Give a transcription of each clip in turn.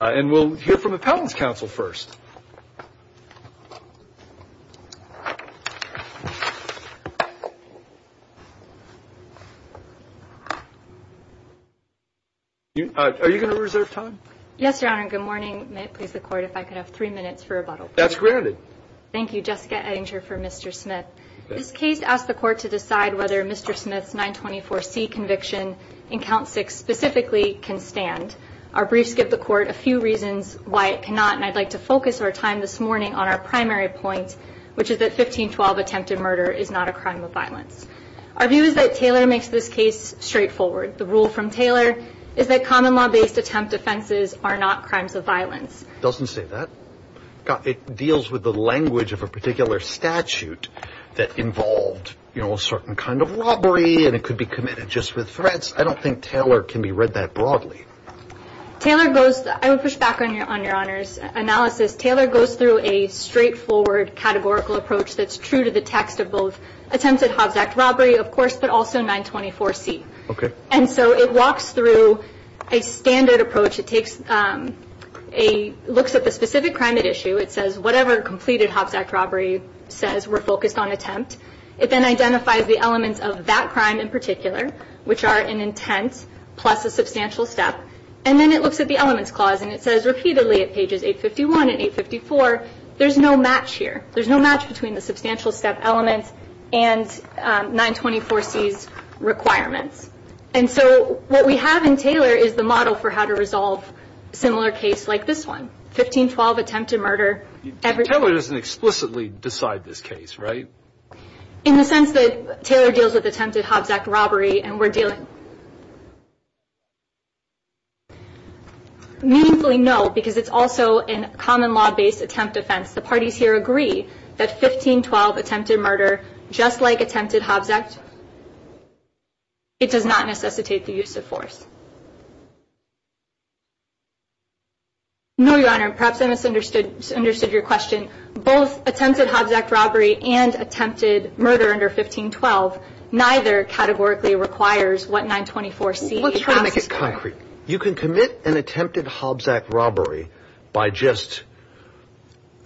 and we'll hear from Appellant's counsel first. Are you going to reserve time? Yes, Your Honor. Good morning. May it please the Court if I could have three minutes for rebuttal. That's granted. Thank you, Jessica Edinger for Mr. Smith. This case asks the Court to decide whether Mr. Smith's 924C conviction in Count 6 specifically can stand. Our briefs give the Court a few reasons why it cannot and I'd like to focus our time this morning on our primary point, which is that 1512 attempted murder is not a crime of violence. Our view is that Taylor makes this case straightforward. The rule from Taylor is that common law based attempt offenses are not crimes of violence. It doesn't say that. It deals with the language of a particular statute that involved, you know, a certain kind of robbery and it could be committed just with threats. I don't think Taylor can be read that broadly. Taylor goes, I would push back on your Honor's analysis. Taylor goes through a straightforward categorical approach that's true to the text of both attempted Hobbs Act robbery, of course, but also 924C. Okay. And so it walks through a standard approach. It takes a, looks at the specific crime at issue. It says whatever completed Hobbs Act robbery says we're focused on attempt. It then identifies the elements of that crime in particular, which are an intent plus a substantial step. And then it looks at the elements clause and it says repeatedly at pages 851 and 854, there's no match here. There's no match between the substantial step elements and 924C's requirements. And so what we have in Taylor is the model for how to resolve similar case like this one, 1512 attempted murder. Taylor doesn't explicitly decide this case, right? In the sense that Taylor deals with attempted Hobbs Act robbery and we're dealing. Meaningfully, no, because it's also a common law based attempt offense. The parties here agree that 1512 attempted murder, just like attempted Hobbs Act, it does not necessitate the use of force. No, Your Honor, perhaps I misunderstood, understood your question. Both attempted Hobbs Act robbery and attempted murder under 1512, neither categorically requires what 924C. Let's try to make it concrete. You can commit an attempted Hobbs Act robbery by just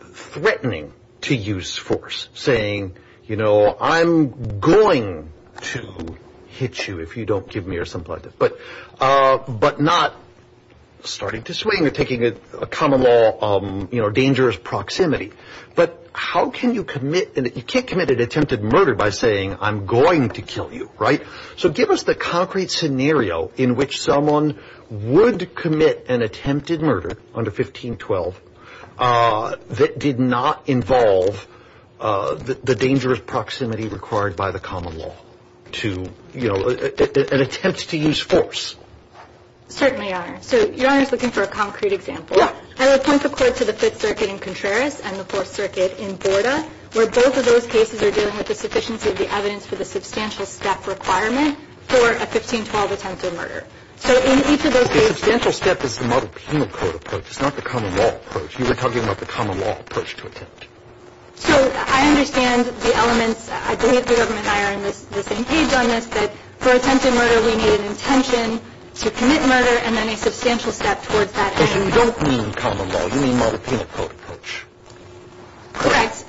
threatening to use force, saying, you know, I'm going to hit you if you don't give me or something like that. But but not starting to swing or taking a common law, you know, dangerous proximity. But how can you commit and you can't commit an attempted murder by saying I'm going to kill you. Right. So give us the concrete scenario in which someone would commit an attempted murder under 1512 that did not involve the dangerous proximity required by the common law to, you know, commit an attempt to use force. Certainly, Your Honor. So Your Honor is looking for a concrete example. I would point the court to the Fifth Circuit in Contreras and the Fourth Circuit in Borda, where both of those cases are dealing with the sufficiency of the evidence for the substantial step requirement for a 1512 attempted murder. So in each of those cases. The substantial step is the model penal code approach. It's not the common law approach. You were talking about the common law approach to attempt. So I understand the elements. I believe the government and I are on the same page on this, but for attempted murder, we need an intention to commit murder and then a substantial step towards that. So you don't mean common law. You mean model penal code approach. Correct.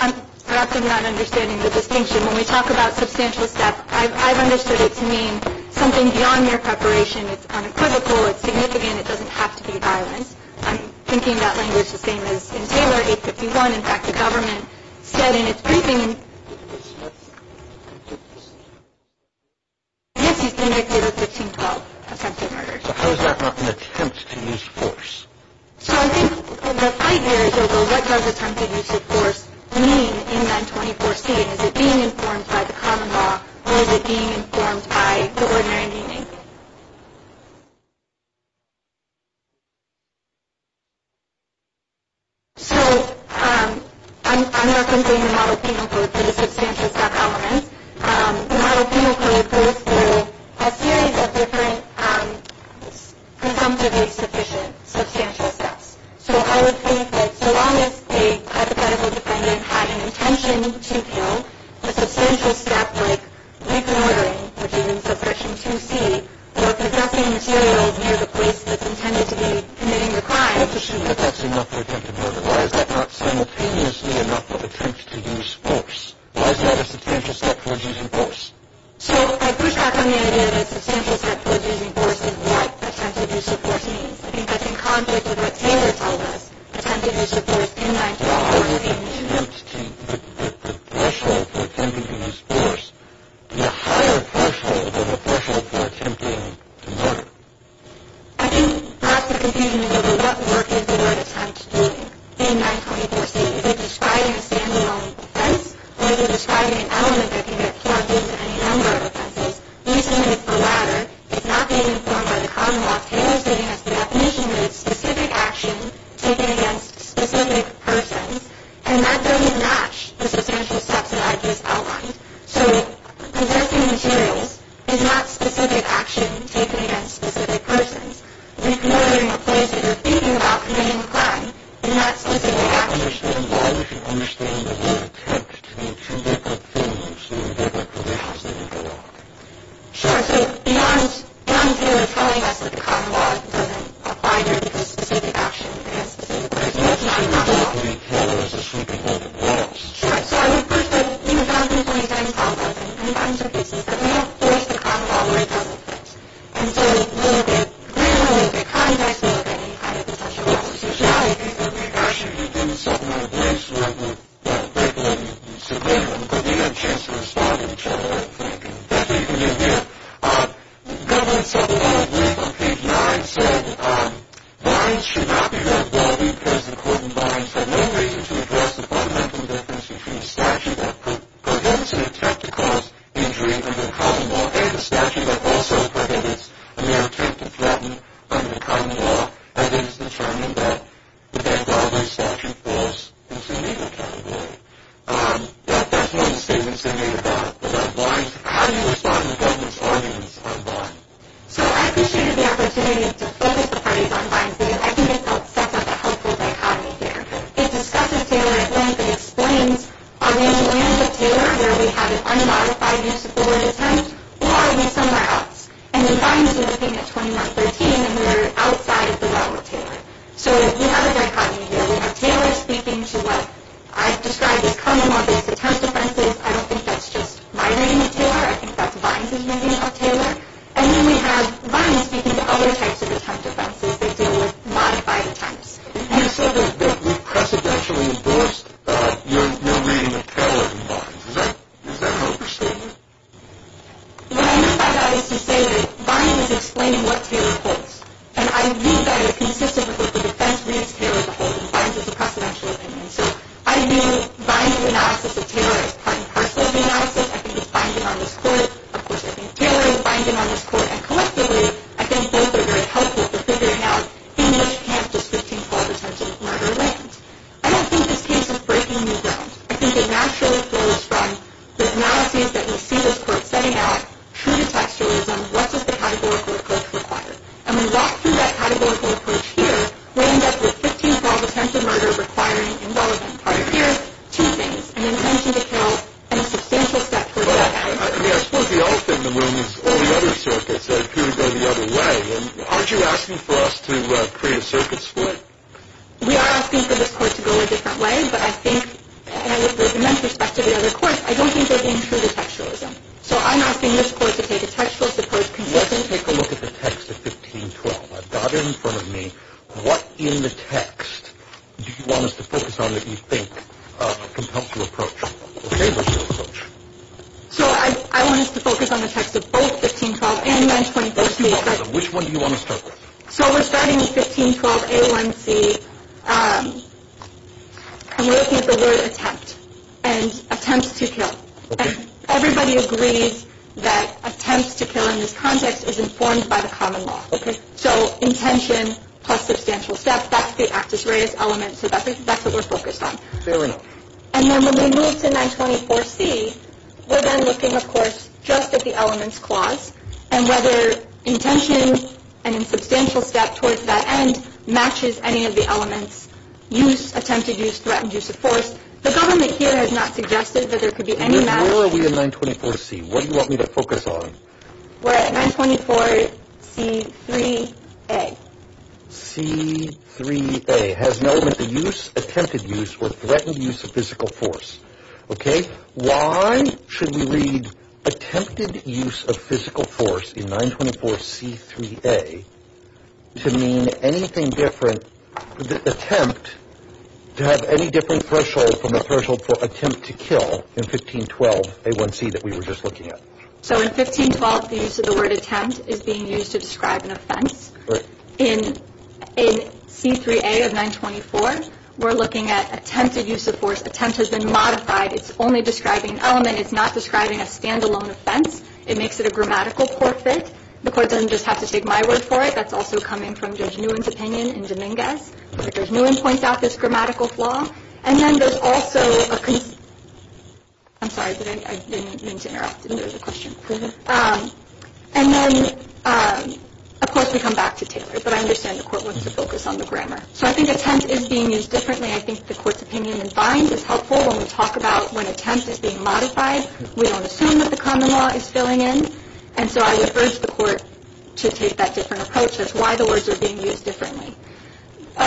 I'm perhaps not understanding the distinction when we talk about substantial step. I've understood it to mean something beyond mere preparation. It's unequivocal. It's significant. It doesn't have to be violent. I'm thinking about language the same as in Taylor 851. In fact, the government said in its briefing, yes, he's convicted of 1512 attempted murder. How is that not an attempt to use force? So I think the fight here is what does attempted use of force mean in 924C? Is it being informed by the common law or is it being informed by the ordinary meaning? So I'm representing the model penal code through the substantial step element. The model penal code goes through a series of different presumptively sufficient substantial steps. So I would think that so long as a hypothetical defendant had an intention to kill, a substantial step like reconnoitering, which is in subsection 2C, or possessing materials near the place that's intended to be committing the crime. But that's enough for attempted murder. Why is that not simultaneously enough of an attempt to use force? Why is that a substantial step towards using force? So I push back on the idea that a substantial step towards using force is what attempted use of force means. I think that's in conflict with what Taylor told us. Attempted use of force in 924C means. The threshold for attempting to use force is a higher threshold than the threshold for attempting to murder. I think that's the confusion as to what work is the word attempt doing in 924C. Is it describing a standalone offense or is it describing an element that can be applied to any number of offenses? The answer is the latter. It's not being informed by the common law. Taylor's giving us the definition that it's specific action taken against specific persons. And that doesn't match the substantial steps that I just outlined. So possessing materials is not specific action taken against specific persons. Ignoring a place that you're thinking about committing a crime is not specific action. So the common law, as you understand, is an attempt to make up for a mistake that actually has to be made. Sure. So beyond Taylor telling us that the common law doesn't apply here because it's specific action against specific persons, it's not enough. It's not enough to leave Taylor as a sleeping woman who walks. Sure. So I would push that we would go into the police department and find some cases that we have to erase the common law where it doesn't apply. And so we'll get, we will get, we can't just look at any kind of a special offense. But what if it's not a specific action? You're doing something like this where the people in civilian could be on chance to respond to each other. That's even easier. Government subordinate on page 9 said, Blinds should not be red-barred because the court in Blinds had no reason to address the fundamental difference between a statute that prevents an attempt to cause injury under the common law and a statute that also prohibits a mere attempt to threaten under the common law, and it is determined that the red-barred statute falls into neither category. That's one of the statements they made about Blinds. How do you respond to government's arguments on Blinds? So I appreciated the opportunity to focus the parties on Blinds because I think it sets up a helpful dichotomy here. It discusses Taylor at length and explains are we in the land of Taylor where we have an unmodified use-of-the-word attempt or are we somewhere else? And then Blinds is looking at 2113 and we're outside the realm of Taylor. So we have a dichotomy here. We have Taylor speaking to what I've described as common law based attempt offenses. I don't think that's just my reading of Taylor. I think that's Blinds' reading of Taylor. And then we have Blinds speaking to other types of attempt offenses. They deal with modified attempts. You said that we precedentially endorsed your reading of Taylor in Blinds. Is that an overstatement? What I meant by that is to say that Blinds is explaining what Taylor holds, and I view that as consistent with what the defense reads Taylor to hold, and Blinds is a precedential opinion. So I view Blinds' analysis of Taylor as part and parcel of the analysis. I think it's binding on this court. Of course, I think Taylor is binding on this court, and collectively I think both are very helpful for figuring out in which camp does 1512 attempt to murder land. I don't think this case is breaking new ground. I think it naturally goes from the analyses that we see this court setting out, true to textualism, what does the categorical approach require? And when we walk through that categorical approach here, we end up with 1512 attempt to murder requiring involvement. Right here, two things, an intention to kill and a substantial step for death penalty. I mean, I suppose the elephant in the room is all the other circuits that appear to go the other way. Aren't you asking for us to create a circuit split? We are asking for this court to go a different way, but I think, and with immense respect to the other courts, I don't think they're being true to textualism. So I'm asking this court to take a textualist approach Let's take a look at the text of 1512. I've got it in front of me. What in the text do you want us to focus on that you think can help you approach? So I want us to focus on the text of both 1512 and 924C. Which one do you want to start with? So we're starting with 1512A1C, and we're looking at the word attempt, and attempt to kill. Everybody agrees that attempt to kill in this context is informed by the common law. So intention plus substantial step, that's the actus reus element, so that's what we're focused on. Fair enough. And then when we move to 924C, we're then looking, of course, just at the elements clause and whether intention and substantial step towards that end matches any of the elements, use, attempted use, threatened use of force. The government here has not suggested that there could be any match. And then where are we in 924C? What do you want me to focus on? We're at 924C3A. C3A has no use, attempted use, or threatened use of physical force. Why should we read attempted use of physical force in 924C3A to mean anything different, attempt to have any different threshold from the threshold for attempt to kill in 1512A1C that we were just looking at? So in 1512, the use of the word attempt is being used to describe an offense. In C3A of 924, we're looking at attempted use of force. Attempt has been modified. It's only describing an element. It's not describing a standalone offense. It makes it a grammatical forfeit. The court doesn't just have to take my word for it. That's also coming from Judge Nguyen's opinion in Dominguez. Judge Nguyen points out this grammatical flaw. And then there's also a concern. I'm sorry. I didn't mean to interrupt. I didn't know there was a question. And then, of course, we come back to Taylor. But I understand the court wants to focus on the grammar. So I think attempt is being used differently. I think the court's opinion in Fines is helpful when we talk about when attempt is being modified. We don't assume that the common law is filling in. And so I would urge the court to take that different approach as to why the words are being used differently.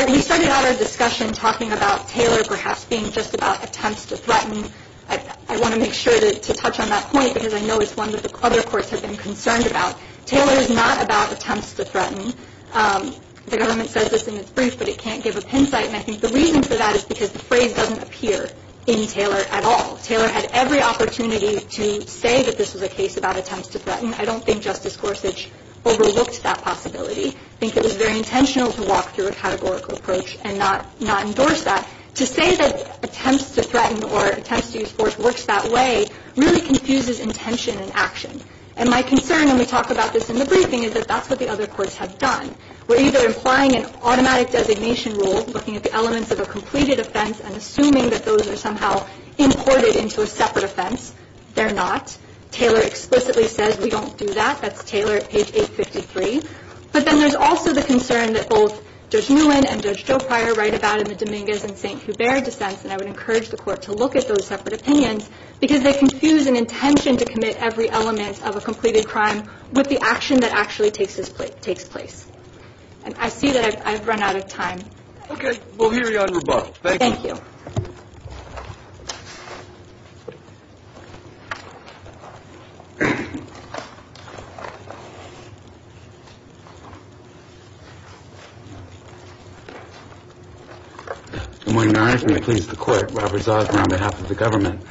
We started out our discussion talking about Taylor perhaps being just about attempts to threaten. I want to make sure to touch on that point because I know it's one that the other courts have been concerned about. Taylor is not about attempts to threaten. The government says this in its brief, but it can't give a pin site. And I think the reason for that is because the phrase doesn't appear in Taylor at all. Taylor had every opportunity to say that this was a case about attempts to threaten. I don't think Justice Gorsuch overlooked that possibility. I think it was very intentional to walk through a categorical approach and not endorse that. To say that attempts to threaten or attempts to use force works that way really confuses intention and action. And my concern when we talk about this in the briefing is that that's what the other courts have done. We're either implying an automatic designation rule, looking at the elements of a completed offense and assuming that those are somehow imported into a separate offense. They're not. Taylor explicitly says we don't do that. That's Taylor at page 853. But then there's also the concern that both Judge Nguyen and Judge Jopri write about in the Dominguez and St. Hubert dissents. And I would encourage the court to look at those separate opinions because they confuse an intention to commit every element of a completed crime with the action that actually takes place. And I see that I've run out of time. Okay. We'll hear you on rebuttal. Thank you. Thank you. Good morning, Your Honor. If you may please the court. Robert Zausman on behalf of the government.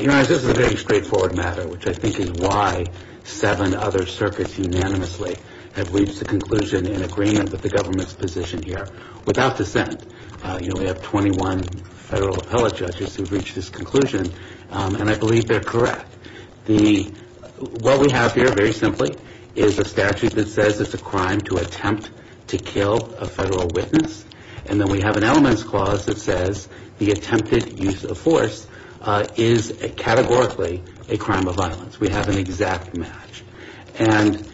Your Honor, this is a very straightforward matter, which I think is why seven other circuits unanimously have reached a conclusion in agreement with the government's position here. Without dissent. You know, we have 21 federal appellate judges who have reached this conclusion. And I believe they're correct. What we have here, very simply, is a statute that says it's a crime to attempt to kill a federal witness. And then we have an elements clause that says the attempted use of force is categorically a crime of violence. We have an exact match. And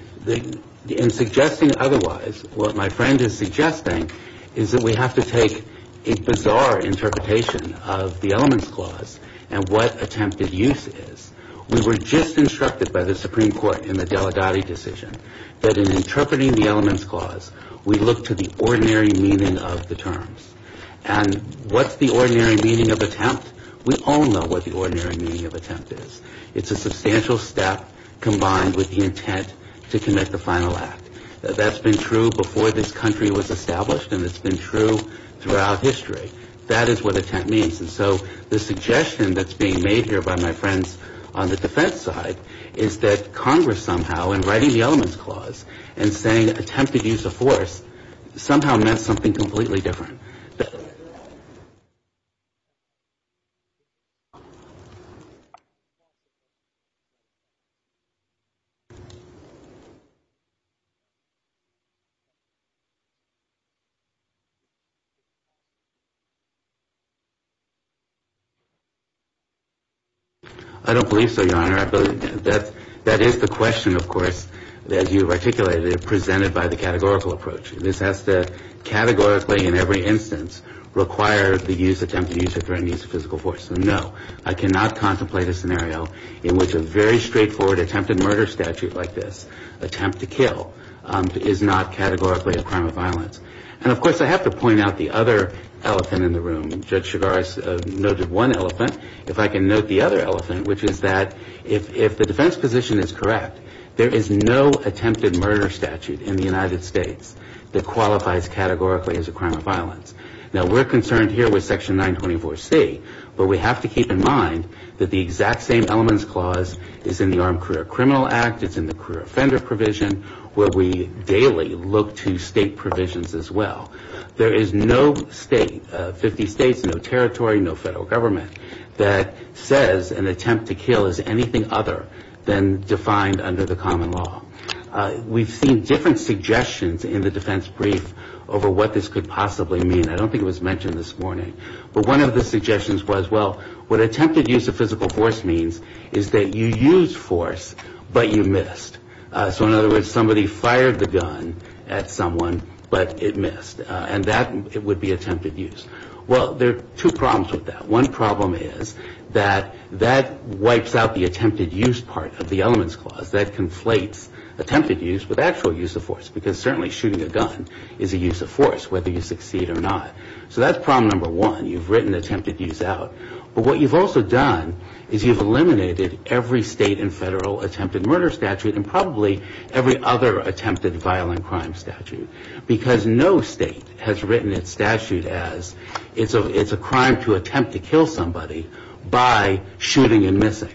in suggesting otherwise, what my friend is suggesting is that we have to take a bizarre interpretation of the elements clause and what attempted use is. We were just instructed by the Supreme Court in the Delgado decision that in interpreting the elements clause, we look to the ordinary meaning of the terms. And what's the ordinary meaning of attempt? We all know what the ordinary meaning of attempt is. It's a substantial step combined with the intent to commit the final act. That's been true before this country was established and it's been true throughout history. That is what attempt means. And so the suggestion that's being made here by my friends on the defense side is that Congress somehow, in writing the elements clause, and saying attempted use of force, somehow meant something completely different. I don't believe so, Your Honor. That is the question, of course, as you've articulated it, presented by the categorical approach. This has to categorically, in every instance, require the use, attempted use of physical force. No, I cannot contemplate a scenario in which a very straightforward attempted murder statute like this, attempt to kill, attempted murder, is not categorically a crime of violence. And, of course, I have to point out the other elephant in the room. Judge Chigaris noted one elephant. If I can note the other elephant, which is that if the defense position is correct, there is no attempted murder statute in the United States that qualifies categorically as a crime of violence. Now, we're concerned here with Section 924C, but we have to keep in mind that the exact same elements clause is in the Armed Career Criminal Act, it's in the career offender provision, where we daily look to state provisions as well. There is no state, 50 states, no territory, no federal government, that says an attempt to kill is anything other than defined under the common law. We've seen different suggestions in the defense brief over what this could possibly mean. I don't think it was mentioned this morning. But one of the suggestions was, well, what attempted use of physical force means is that you used force, but you missed. So in other words, somebody fired the gun at someone, but it missed. And that would be attempted use. Well, there are two problems with that. One problem is that that wipes out the attempted use part of the elements clause. That conflates attempted use with actual use of force, because certainly shooting a gun is a use of force, whether you succeed or not. So that's problem number one. You've written attempted use out. But what you've also done is you've eliminated every state and federal attempted murder statute and probably every other attempted violent crime statute, because no state has written its statute as it's a crime to attempt to kill somebody by shooting and missing.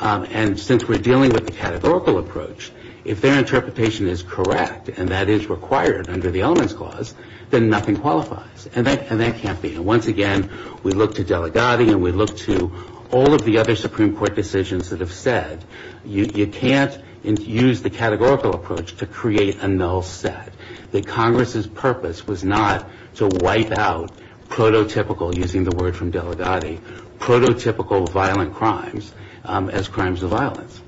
And since we're dealing with the categorical approach, if their interpretation is correct, and that is required under the elements clause, then nothing qualifies. And that can't be. And once again, we look to Delegati, and we look to all of the other Supreme Court decisions that have said you can't use the categorical approach to create a null set, that Congress's purpose was not to wipe out prototypical, using the word from Delegati, prototypical violent crimes as crimes of violence.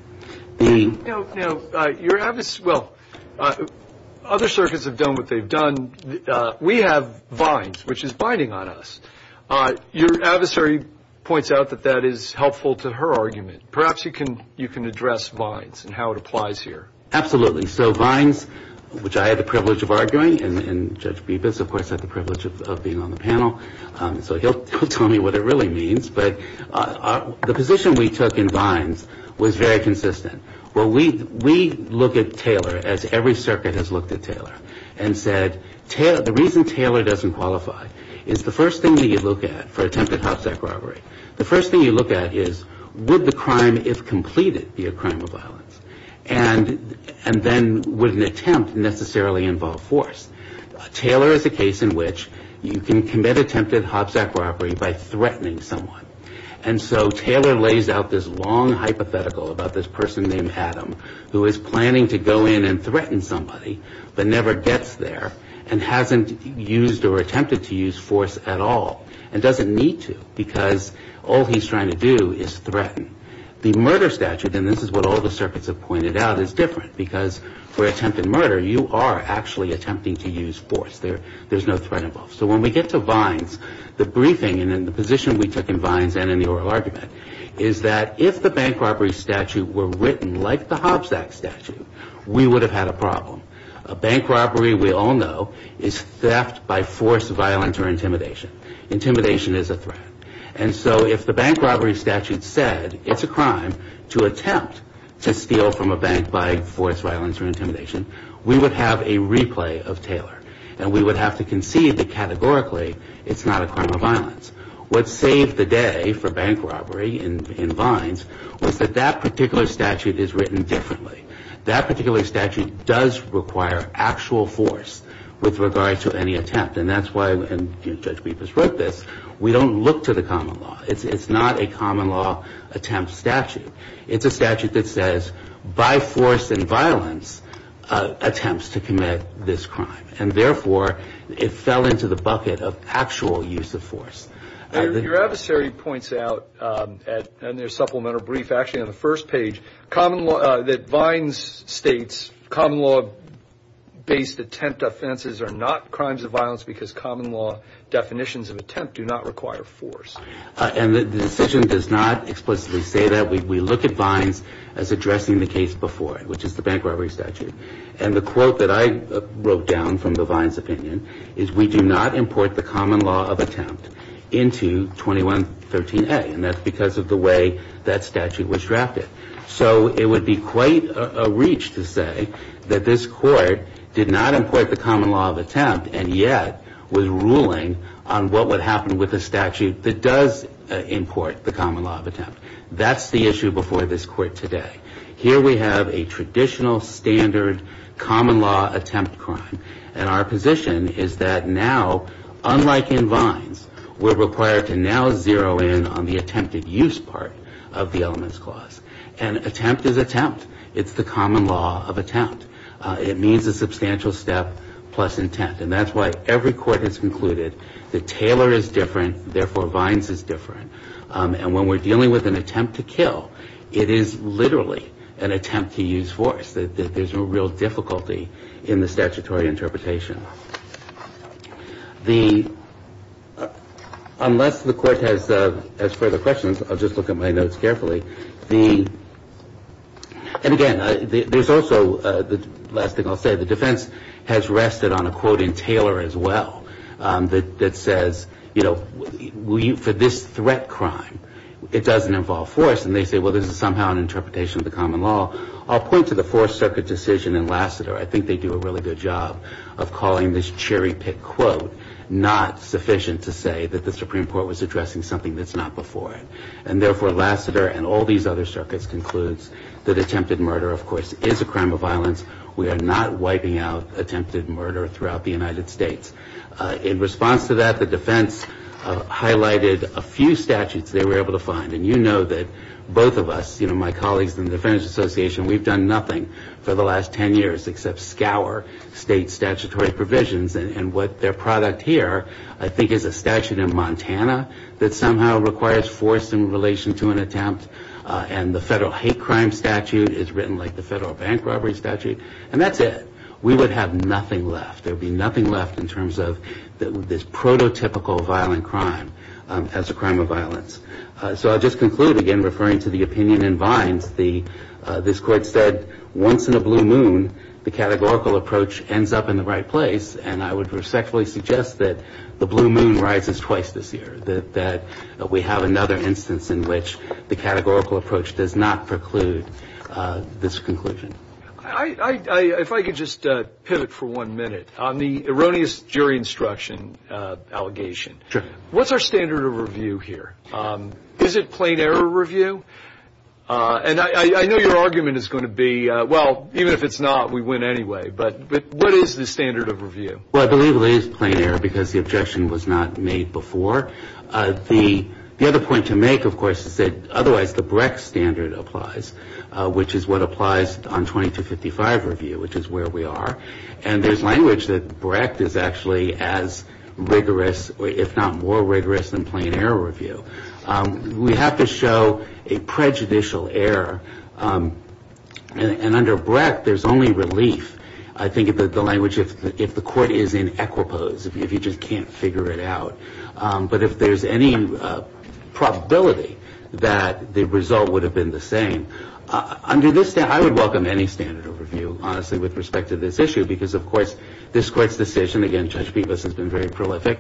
Now, your adversary, well, other circuits have done what they've done. We have vines, which is binding on us. Your adversary points out that that is helpful to her argument. Perhaps you can address vines and how it applies here. Absolutely. So vines, which I had the privilege of arguing, and Judge Bibas, of course, had the privilege of being on the panel, so he'll tell me what it really means. But the position we took in vines was very consistent. Well, we look at Taylor as every circuit has looked at Taylor and said the reason Taylor doesn't qualify is the first thing that you look at for attempted hopsack robbery, the first thing you look at is would the crime, if completed, be a crime of violence? And then would an attempt necessarily involve force? Taylor is a case in which you can commit attempted hopsack robbery by threatening someone. And so Taylor lays out this long hypothetical about this person named Adam who is planning to go in and threaten somebody but never gets there and hasn't used or attempted to use force at all and doesn't need to because all he's trying to do is threaten. The murder statute, and this is what all the circuits have pointed out, is different because for attempted murder you are actually attempting to use force. There's no threat involved. So when we get to vines, the briefing and the position we took in vines and in the oral argument is that if the bank robbery statute were written like the hopsack statute, we would have had a problem. A bank robbery, we all know, is theft by force, violence, or intimidation. Intimidation is a threat. And so if the bank robbery statute said it's a crime to attempt to steal from a bank by force, violence, or intimidation, we would have a replay of Taylor and we would have to concede that categorically it's not a crime of violence. What saved the day for bank robbery in vines was that that particular statute is written differently. That particular statute does require actual force with regard to any attempt. And that's why, and Judge Bepas wrote this, we don't look to the common law. It's not a common law attempt statute. It's a statute that says by force and violence attempts to commit this crime. And therefore, it fell into the bucket of actual use of force. Your adversary points out in their supplemental brief, actually on the first page, that vines states common law based attempt offenses are not crimes of violence because common law definitions of attempt do not require force. And the decision does not explicitly say that. We look at vines as addressing the case before it, which is the bank robbery statute. And the quote that I wrote down from the vines opinion is we do not import the common law of attempt into 2113A. And that's because of the way that statute was drafted. So it would be quite a reach to say that this court did not import the common law of attempt and yet was ruling on what would happen with a statute that does import the common law of attempt. That's the issue before this court today. Here we have a traditional standard common law attempt crime. And our position is that now, unlike in vines, we're required to now zero in on the attempted use part of the elements clause. And attempt is attempt. It's the common law of attempt. It means a substantial step plus intent. And that's why every court has concluded that Taylor is different, therefore vines is different. And when we're dealing with an attempt to kill, it is literally an attempt to use force. There's a real difficulty in the statutory interpretation. Unless the court has further questions, I'll just look at my notes carefully. And again, there's also, the last thing I'll say, the defense has rested on a quote in Taylor as well that says, you know, for this threat crime, it doesn't involve force. And they say, well, this is somehow an interpretation of the common law. I'll point to the Fourth Circuit decision in Lassiter. I think they do a really good job of calling this cherry-picked quote not sufficient to say that the Supreme Court was addressing something that's not before it. And therefore, Lassiter and all these other circuits concludes that attempted murder, of course, is a crime of violence. We are not wiping out attempted murder throughout the United States. In response to that, the defense highlighted a few statutes they were able to find. And you know that both of us, my colleagues in the Defense Association, we've done nothing for the last 10 years except scour state statutory provisions. And what their product here, I think, is a statute in Montana that somehow requires force in relation to an attempt. And the federal hate crime statute is written like the federal bank robbery statute. And that's it. We would have nothing left. There would be nothing left in terms of this prototypical violent crime as a crime of violence. So I'll just conclude, again, referring to the opinion in Vines. This court said, once in a blue moon, the categorical approach ends up in the right place. And I would respectfully suggest that the blue moon rises twice this year, that we have another instance in which the categorical approach does not preclude this conclusion. If I could just pivot for one minute on the erroneous jury instruction allegation. What's our standard of review here? Is it plain error review? And I know your argument is going to be, well, even if it's not, we win anyway. But what is the standard of review? Well, I believe it is plain error because the objection was not made before. The other point to make, of course, is that otherwise the Brecht standard applies, which is what applies on 2255 review, which is where we are. And there's language that Brecht is actually as rigorous, if not more rigorous, than plain error review. We have to show a prejudicial error. And under Brecht, there's only relief, I think, in the language if the court is in equipoise, if you just can't figure it out. But if there's any probability that the result would have been the same, under this standard, I would welcome any standard of review, honestly, with respect to this issue because, of course, this court's decision, again, Judge Bibas has been very prolific,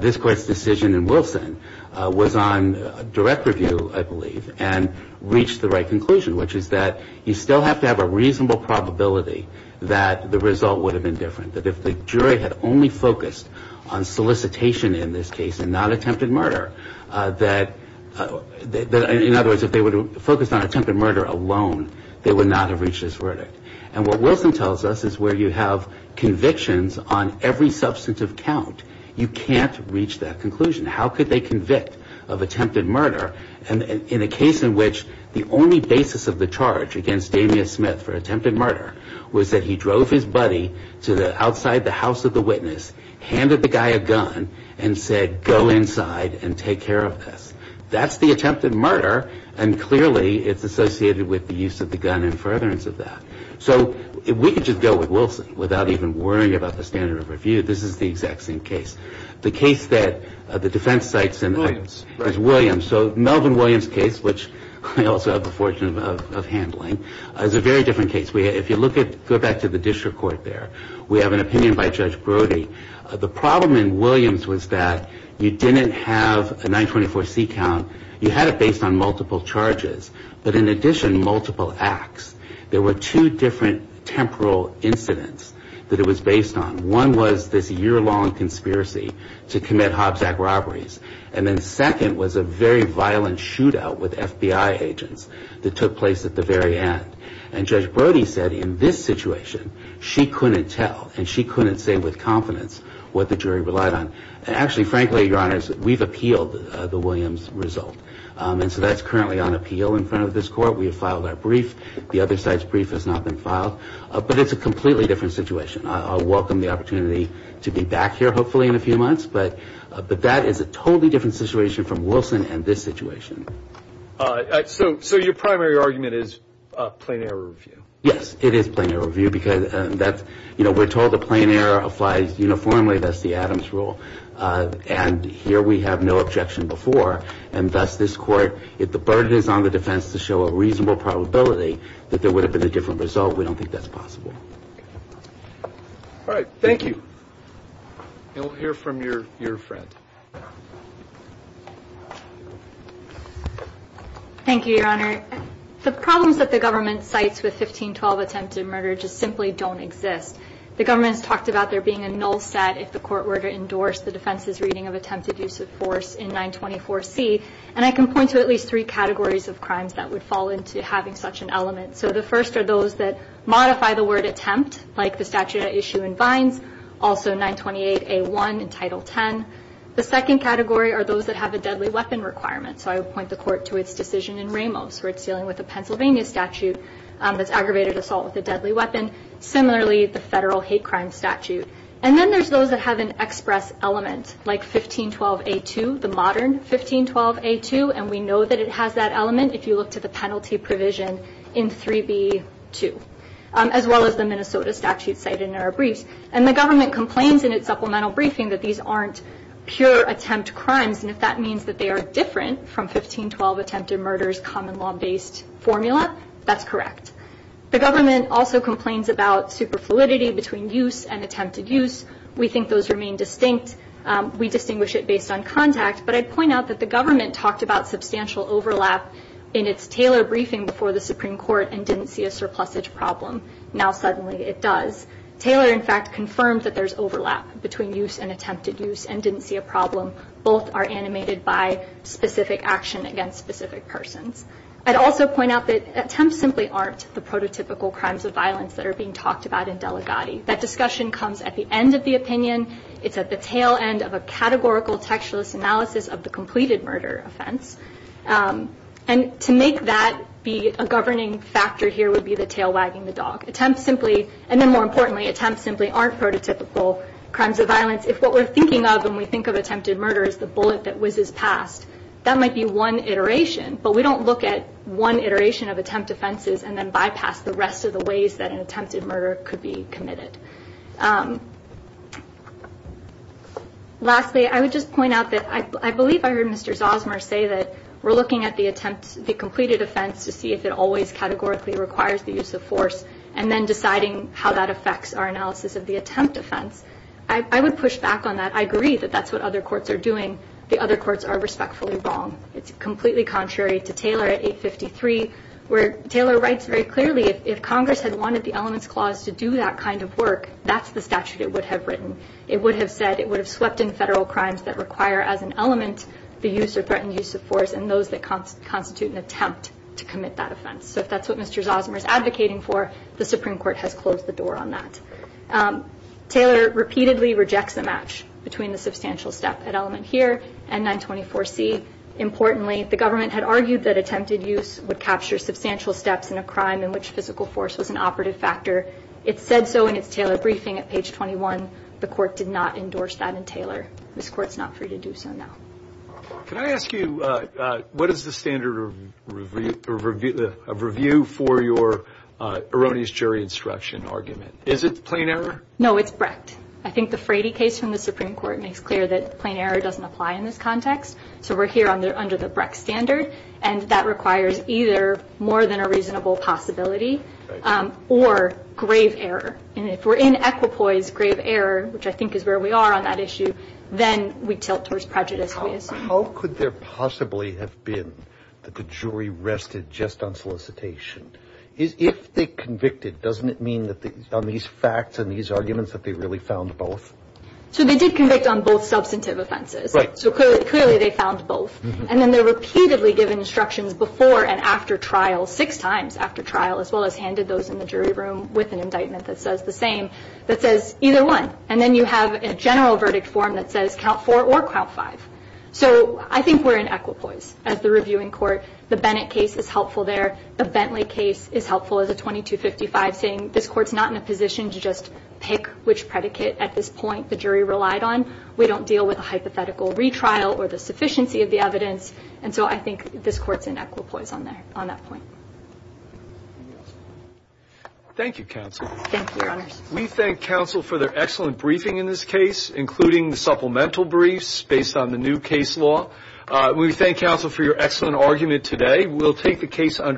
this court's decision in Wilson was on direct review, I believe, and reached the right conclusion, which is that you still have to have a reasonable probability that the result would have been different, that if the jury had only focused on solicitation in this case and not attempted murder, that, in other words, if they would have focused on attempted murder alone, they would not have reached this verdict. And what Wilson tells us is where you have convictions on every substantive count, you can't reach that conclusion. How could they convict of attempted murder in a case in which the only basis of the charge against Damien Smith for attempted murder was that he drove his buddy to outside the house of the witness, handed the guy a gun, and said, go inside and take care of this. That's the attempted murder, and clearly it's associated with the use of the gun and furtherance of that. So we could just go with Wilson without even worrying about the standard of review. This is the exact same case. The case that the defense cites in Williams, so Melvin Williams' case, which I also have the fortune of handling, is a very different case. If you go back to the district court there, we have an opinion by Judge Brody. The problem in Williams was that you didn't have a 924C count. You had it based on multiple charges, but in addition, multiple acts. There were two different temporal incidents that it was based on. One was this year-long conspiracy to commit Hobbs Act robberies, and then second was a very violent shootout with FBI agents that took place at the very end. And Judge Brody said, in this situation, she couldn't tell, and she couldn't say with confidence what the jury relied on. Actually, frankly, Your Honors, we've appealed the Williams result, and so that's currently on appeal in front of this court. We have filed our brief. The other side's brief has not been filed, but it's a completely different situation. I'll welcome the opportunity to be back here hopefully in a few months, but that is a totally different situation from Wilson and this situation. So your primary argument is plain error review? Yes, it is plain error review, because we're told that plain error applies uniformly. That's the Adams rule, and here we have no objection before, and thus this court, if the burden is on the defense to show a reasonable probability that there would have been a different result, we don't think that's possible. All right, thank you. We'll hear from your friend. Thank you, Your Honor. The problems that the government cites with 1512 attempted murder just simply don't exist. The government has talked about there being a null stat if the court were to endorse the defense's reading of attempted use of force in 924C, and I can point to at least three categories of crimes that would fall into having such an element. So the first are those that modify the word attempt, like the statute at issue in Vines, also 928A1 in Title 10. The second category are those that have a deadly weapon requirement, so I would point the court to its decision in Ramos, where it's dealing with a Pennsylvania statute that's aggravated assault with a deadly weapon, similarly the federal hate crime statute. And then there's those that have an express element, like 1512A2, the modern 1512A2, and we know that it has that element if you look to the penalty provision in 3B2, as well as the Minnesota statute cited in our briefs. And the government complains in its supplemental briefing that these aren't pure attempt crimes, and if that means that they are different from 1512 attempted murder's common law-based formula, that's correct. The government also complains about superfluidity between use and attempted use. We think those remain distinct. We distinguish it based on contact, but I'd point out that the government talked about substantial overlap in its Taylor briefing before the Supreme Court and didn't see a surplusage problem. Now suddenly it does. Taylor, in fact, confirmed that there's overlap between use and attempted use and didn't see a problem. Both are animated by specific action against specific persons. I'd also point out that attempts simply aren't the prototypical crimes of violence that are being talked about in Delegati. That discussion comes at the end of the opinion. It's at the tail end of a categorical textualist analysis of the completed murder offense. And to make that be a governing factor here would be the tail wagging the dog. And then more importantly, attempts simply aren't prototypical crimes of violence. If what we're thinking of when we think of attempted murder is the bullet that whizzes past, that might be one iteration, but we don't look at one iteration of attempt offenses and then bypass the rest of the ways that an attempted murder could be committed. Lastly, I would just point out that I believe I heard Mr. Zosmer say that we're looking at the completed offense to see if it always categorically requires the use of force, and then deciding how that affects our analysis of the attempt offense. I would push back on that. I agree that that's what other courts are doing. The other courts are respectfully wrong. It's completely contrary to Taylor at 853, where Taylor writes very clearly if Congress had wanted the elements clause to do that kind of work, that's the statute it would have written. It would have said it would have swept in federal crimes that require as an element the use or threatened use of force and those that constitute an attempt to commit that offense. So if that's what Mr. Zosmer is advocating for, the Supreme Court has closed the door on that. Taylor repeatedly rejects the match between the substantial step at element here and 924C. Importantly, the government had argued that attempted use would capture substantial steps in a crime in which physical force was an operative factor. It said so in its Taylor briefing at page 21. The court did not endorse that in Taylor. This court's not free to do so now. Can I ask you, what is the standard of review for your erroneous jury instruction argument? Is it plain error? No, it's Brecht. I think the Frady case from the Supreme Court makes clear that plain error doesn't apply in this context. So we're here under the Brecht standard and that requires either more than a reasonable possibility or grave error. And if we're in equipoise grave error, which I think is where we are on that issue, then we tilt towards prejudice, we assume. How could there possibly have been that the jury rested just on solicitation? If they convicted, doesn't it mean that on these facts and these arguments that they really found both? So they did convict on both substantive offenses. Right. So clearly they found both. And then they're repeatedly given instructions before and after trial, six times after trial, as well as handed those in the jury room with an indictment that says the same, that says either one. And then you have a general verdict form that says count four or count five. So I think we're in equipoise as the reviewing court. The Bennett case is helpful there. The Bentley case is helpful as a 2255, saying this Court's not in a position to just pick which predicate at this point the jury relied on. We don't deal with a hypothetical retrial or the sufficiency of the evidence. And so I think this Court's in equipoise on that point. Thank you, Counsel. Thank you, Your Honors. We thank Counsel for their excellent briefing in this case, including the supplemental briefs based on the new case law. We thank Counsel for your excellent argument today.